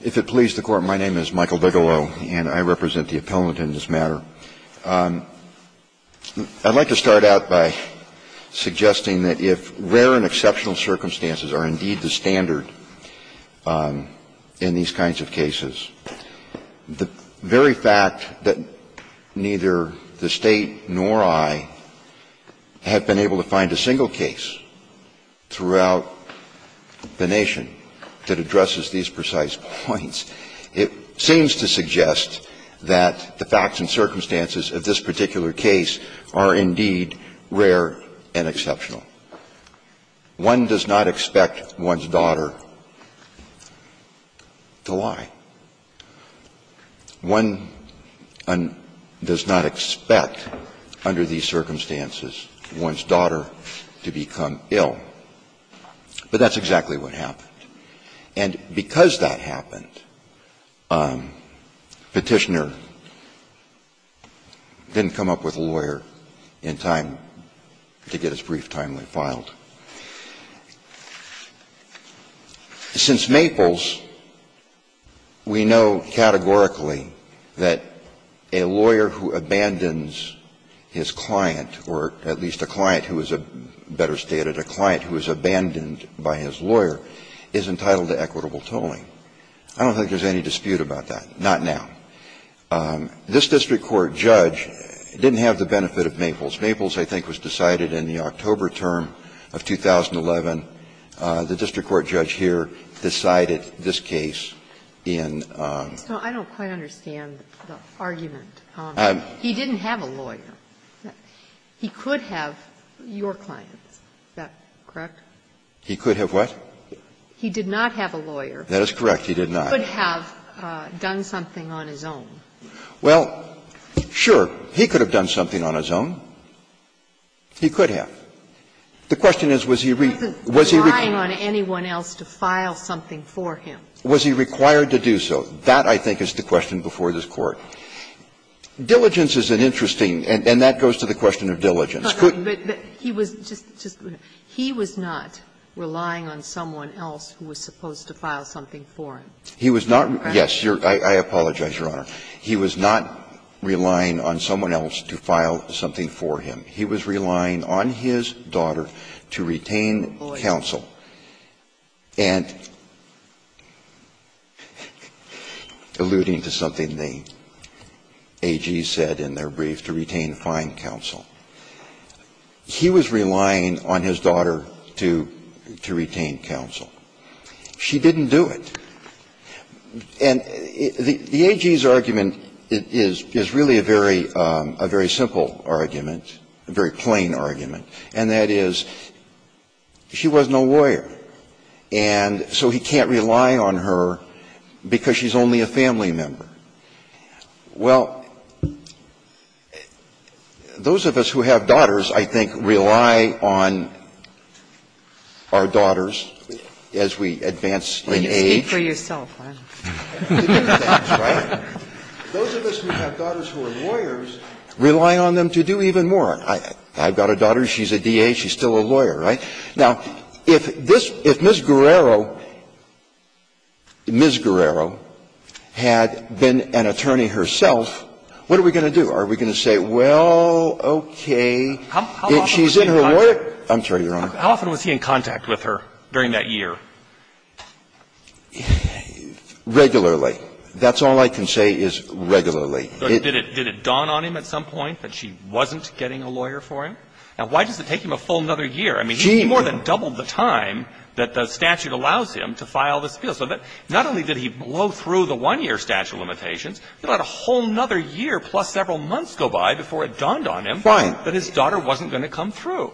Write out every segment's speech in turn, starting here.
If it please the Court, my name is Michael Bigelow, and I represent the appellant in this matter. I'd like to start out by suggesting that if rare and exceptional circumstances are indeed the standard in these kinds of cases, the very fact that neither the State nor I have been able to find a single case throughout the nation that addresses these precise points, it seems to suggest that the facts and circumstances of this particular case are indeed rare and exceptional. One does not expect one's daughter to lie. One does not expect, under these circumstances, one's daughter to become ill. But that's exactly what happened. And because that happened, Petitioner didn't come up with a lawyer in time to get his brief timely filed. Since Maples, we know categorically that a lawyer who abandons his client, or at least a client who is, better stated, a client who is abandoned by his lawyer, is entitled to equitable tolling. I don't think there's any dispute about that. Not now. This district court judge didn't have the benefit of Maples. Maples, I think, was decided in the October term of 2011. The district court judge here decided this case in the October term of 2011. Sotomayor, he could have, your client, is that correct? He could have what? He did not have a lawyer. That is correct. He did not. He could have done something on his own. Well, sure. He could have done something on his own. He could have. The question is, was he required to do so. That, I think, is the question before this Court. Diligence is an interesting and that goes to the question of diligence. He was not relying on someone else who was supposed to file something for him. He was not, yes, I apologize, Your Honor. He was not relying on someone else to file something for him. He was relying on his daughter to retain counsel. And alluding to something the AG said in their brief, to retain fine counsel. He was relying on his daughter to retain counsel. She didn't do it. And the AG's argument is really a very simple argument, a very plain argument, and that is, she was no lawyer, and so he can't rely on her because she's only a family member. Well, those of us who have daughters, I think, rely on our daughters as we advance in age. Ginsburg. You speak for yourself, huh? That's right. Those of us who have daughters who are lawyers rely on them to do even more. I've got a daughter, she's a D.A., she's still a lawyer, right? Now, if this, if Ms. Guerrero, Ms. Guerrero had been an attorney herself, what are we going to do? Are we going to say, well, okay, she's in her lawyer? I'm sorry, Your Honor. How often was he in contact with her during that year? Regularly. That's all I can say is regularly. Did it dawn on him at some point that she wasn't getting a lawyer for him? Now, why does it take him a full another year? I mean, he more than doubled the time that the statute allows him to file the spiel. So not only did he blow through the one-year statute of limitations, he let a whole another year plus several months go by before it dawned on him that his daughter wasn't going to come through.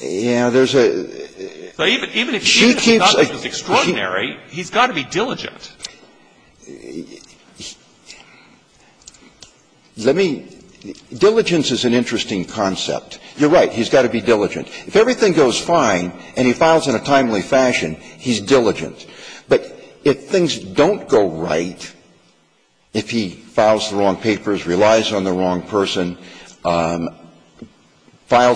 Yeah, there's a – Even if he thinks his daughter is extraordinary, he's got to be diligent. Let me – diligence is an interesting concept. You're right. He's got to be diligent. If everything goes fine and he files in a timely fashion, he's diligent. But if things don't go right, if he files the wrong papers, relies on the wrong person, files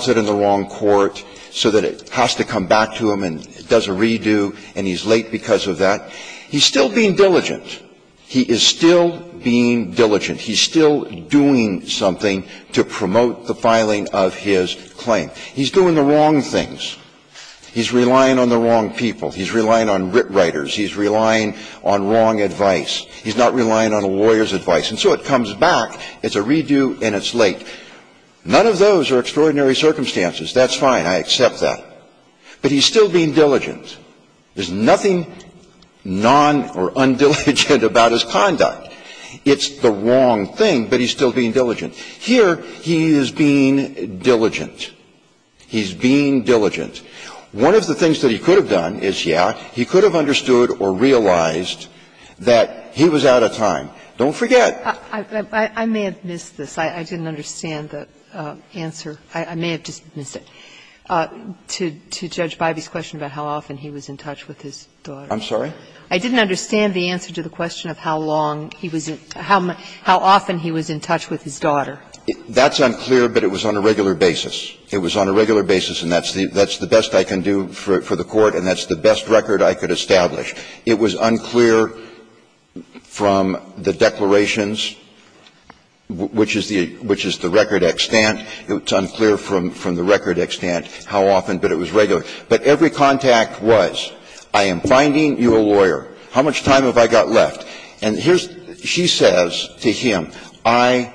it in the wrong court so that it has to come back to him and does a redo and he's late because of that, he's still being diligent. He is still being diligent. He's still doing something to promote the filing of his claim. He's doing the wrong things. He's relying on the wrong people. He's relying on writ writers. He's relying on wrong advice. He's not relying on a lawyer's advice. And so it comes back, it's a redo and it's late. None of those are extraordinary circumstances. That's fine. I accept that. But he's still being diligent. There's nothing non- or undiligent about his conduct. It's the wrong thing, but he's still being diligent. Here, he is being diligent. He's being diligent. One of the things that he could have done is, yeah, he could have understood or realized that he was out of time. Don't forget. I may have missed this. I didn't understand the answer. I may have just missed it. To Judge Biby's question about how often he was in touch with his daughter. I'm sorry? I didn't understand the answer to the question of how long he was in – how often he was in touch with his daughter. That's unclear, but it was on a regular basis. It was on a regular basis, and that's the best I can do for the Court, and that's the best record I could establish. It was unclear from the declarations, which is the record extant. It's unclear from the record extant how often, but it was regular. But every contact was, I am finding you a lawyer. How much time have I got left? And here's – she says to him, I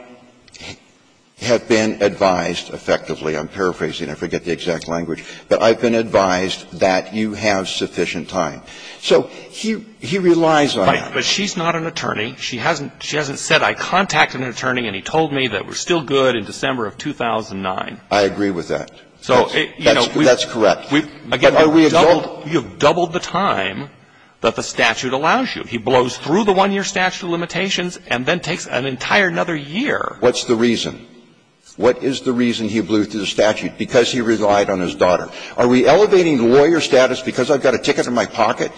have been advised effectively. I'm paraphrasing. I forget the exact language. But I've been advised that you have sufficient time. So he relies on that. But she's not an attorney. She hasn't – she hasn't said, I contacted an attorney and he told me that we're I agree with that. So, you know, we've – That's correct. Again, you've doubled – you've doubled the time that the statute allows you. He blows through the one-year statute of limitations and then takes an entire another year. What's the reason? What is the reason he blew through the statute? Because he relied on his daughter. Are we elevating the lawyer status because I've got a ticket in my pocket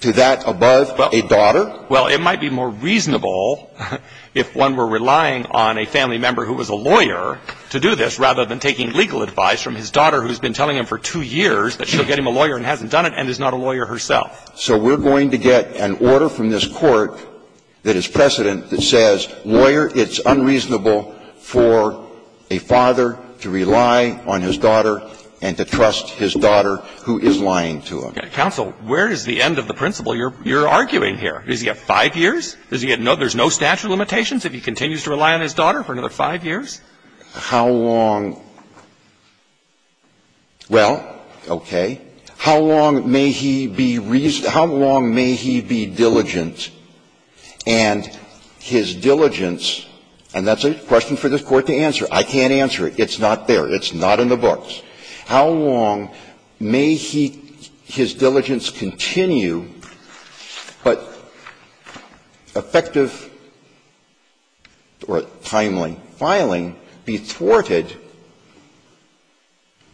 to that above a daughter? Well, it might be more reasonable if one were relying on a family member who was a to do this rather than taking legal advice from his daughter who's been telling him for two years that she'll get him a lawyer and hasn't done it and is not a lawyer herself. So we're going to get an order from this court that is precedent that says, lawyer, it's unreasonable for a father to rely on his daughter and to trust his daughter who is lying to him. Counsel, where is the end of the principle you're arguing here? Is he at five years? Is he at – there's no statute of limitations if he continues to rely on his daughter for another five years? How long – well, okay. How long may he be – how long may he be diligent and his diligence – and that's a question for this Court to answer. I can't answer it. It's not there. It's not in the books. How long may he – his diligence continue, but effective or timely filing be thwarted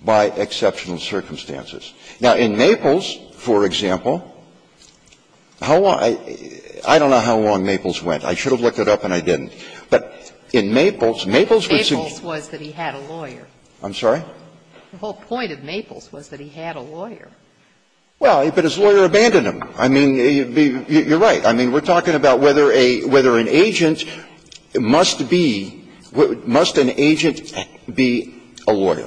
by exceptional circumstances? Now, in Maples, for example, how long – I don't know how long Maples went. I should have looked it up and I didn't. But in Maples, Maples would suggest that he had a lawyer. I'm sorry? The whole point of Maples was that he had a lawyer. Well, but his lawyer abandoned him. I mean, you're right. I mean, we're talking about whether a – whether an agent must be – must an agent be a lawyer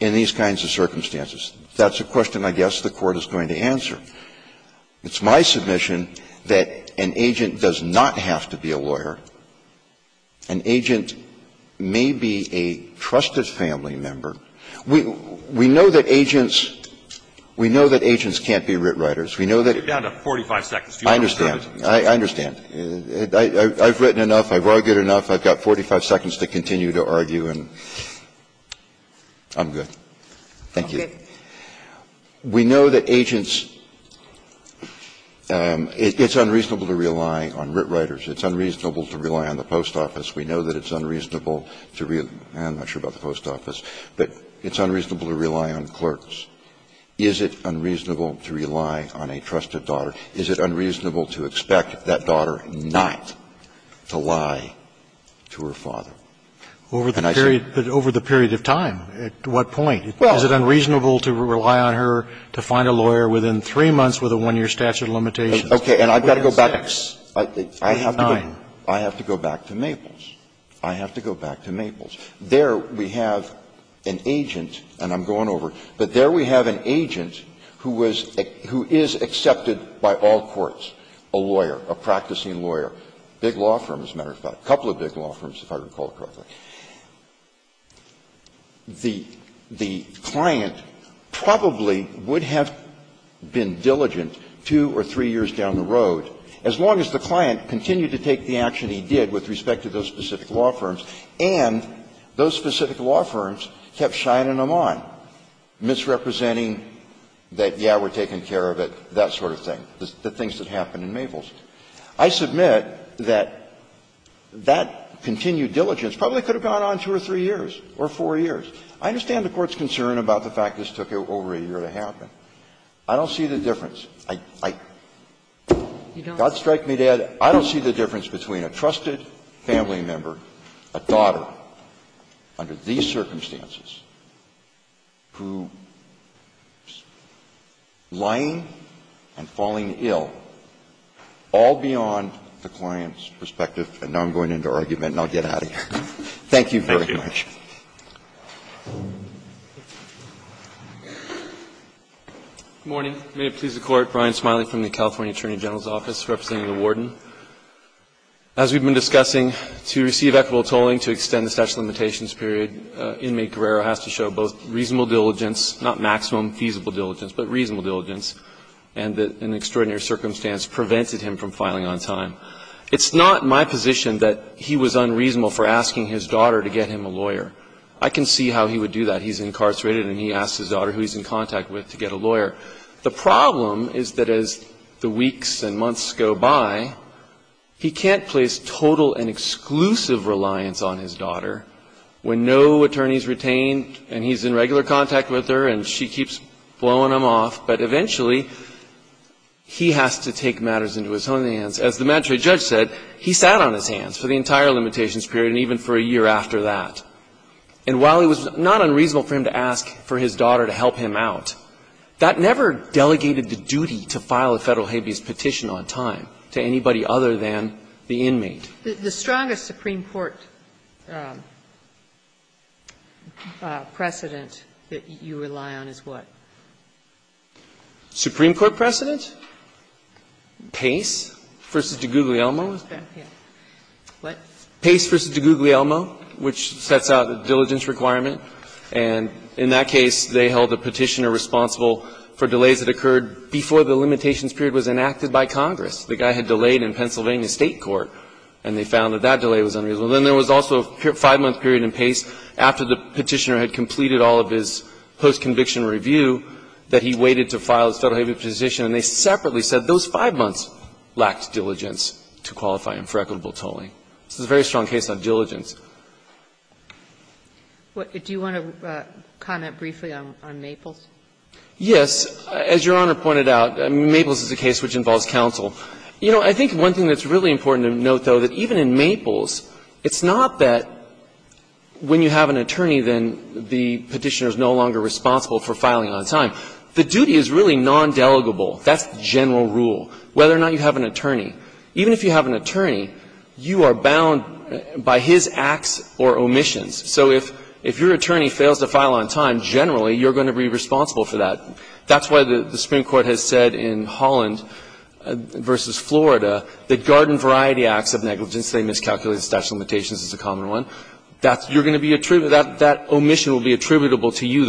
in these kinds of circumstances. That's a question I guess the Court is going to answer. It's my submission that an agent does not have to be a lawyer. An agent may be a trusted family member. We know that agents – we know that agents can't be writ writers. We know that – You're down to 45 seconds. I understand. I understand. I've written enough. I've argued enough. I've got 45 seconds to continue to argue, and I'm good. Thank you. We know that agents – it's unreasonable to rely on writ writers. It's unreasonable to rely on the post office. We know that it's unreasonable to – I'm not sure about the post office, but it's unreasonable to rely on clerks. Is it unreasonable to rely on a trusted daughter? Is it unreasonable to expect that daughter not to lie to her father? And I say – But over the period of time, at what point? Is it unreasonable to rely on her to find a lawyer within three months with a one-year statute of limitations? Okay. And I've got to go back. I have to go back to Maples. I have to go back to Maples. There we have an agent, and I'm going over it, but there we have an agent who was – who is accepted by all courts, a lawyer, a practicing lawyer, big law firm, as a matter of fact, a couple of big law firms, if I recall correctly. The client probably would have been diligent two or three years down the road, and as long as the client continued to take the action he did with respect to those specific law firms, and those specific law firms kept shining them on, misrepresenting that, yeah, we're taking care of it, that sort of thing, the things that happened in Maples, I submit that that continued diligence probably could have gone on two or three years or four years. I understand the Court's concern about the fact this took over a year to happen. I don't see the difference. I don't see the difference between a trusted family member, a daughter, under these circumstances, who is lying and falling ill, all beyond the client's perspective. And now I'm going into argument, and I'll get out of here. Thank you very much. Good morning. May it please the Court. Brian Smiley from the California Attorney General's Office, representing the Warden. As we've been discussing, to receive equitable tolling to extend the statute of limitations period, inmate Guerrero has to show both reasonable diligence, not maximum feasible diligence, but reasonable diligence, and that an extraordinary circumstance prevented him from filing on time. It's not my position that he was unreasonable for asking his daughter to get him a lawyer. I can see how he would do that. He's incarcerated, and he asks his daughter, who he's in contact with, to get a lawyer. The problem is that as the weeks and months go by, he can't place total and exclusive reliance on his daughter when no attorney is retained, and he's in regular contact with her, and she keeps blowing him off. But eventually, he has to take matters into his own hands. As the Mad Tray judge said, he sat on his hands for the entire limitations period and even for a year after that. And while it was not unreasonable for him to ask for his daughter to help him out, that never delegated the duty to file a Federal habeas petition on time to anybody other than the inmate. The strongest Supreme Court precedent that you rely on is what? Supreme Court precedent? Pace v. DiGuglielmo? Pace v. DiGuglielmo, which sets out a diligence requirement. And in that case, they held the Petitioner responsible for delays that occurred before the limitations period was enacted by Congress. The guy had delayed in Pennsylvania State court, and they found that that delay was unreasonable. And then there was also a five-month period in Pace after the Petitioner had completed all of his post-conviction review that he waited to file his Federal habeas petition, and they separately said those five months lacked diligence to qualify him for equitable tolling. This is a very strong case on diligence. Do you want to comment briefly on Maples? Yes. As Your Honor pointed out, Maples is a case which involves counsel. You know, I think one thing that's really important to note, though, that even in Maples, it's not that when you have an attorney, then the Petitioner is no longer responsible for filing on time. The duty is really nondelegable. That's the general rule, whether or not you have an attorney. Even if you have an attorney, you are bound by his acts or omissions. So if your attorney fails to file on time, generally, you're going to be responsible for that. That's why the Supreme Court has said in Holland v. Florida that garden variety acts of negligence, they miscalculated the statute of limitations is a common one, that you're going to be attributable, that omission will be attributable to you,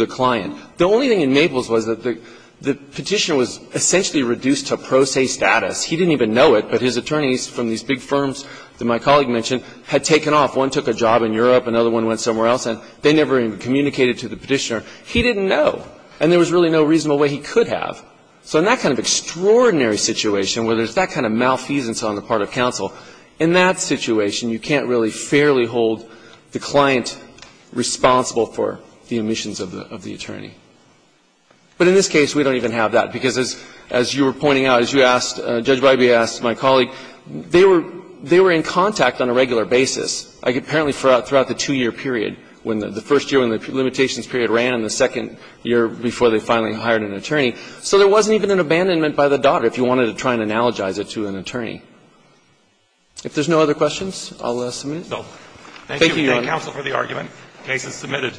the Petitioner was essentially reduced to pro se status. He didn't even know it, but his attorneys from these big firms that my colleague mentioned had taken off. One took a job in Europe, another one went somewhere else, and they never even communicated to the Petitioner. He didn't know, and there was really no reasonable way he could have. So in that kind of extraordinary situation, where there's that kind of malfeasance on the part of counsel, in that situation, you can't really fairly hold the client responsible for the omissions of the attorney. But in this case, we don't even have that, because as you were pointing out, as you asked, Judge Breybe asked my colleague, they were in contact on a regular basis, like apparently throughout the two-year period, when the first year, when the limitations period ran, and the second year before they finally hired an attorney. So there wasn't even an abandonment by the daughter, if you wanted to try and analogize it to an attorney. If there's no other questions, I'll submit. Thank you, Your Honor. Thank you, counsel, for the argument. The case is submitted.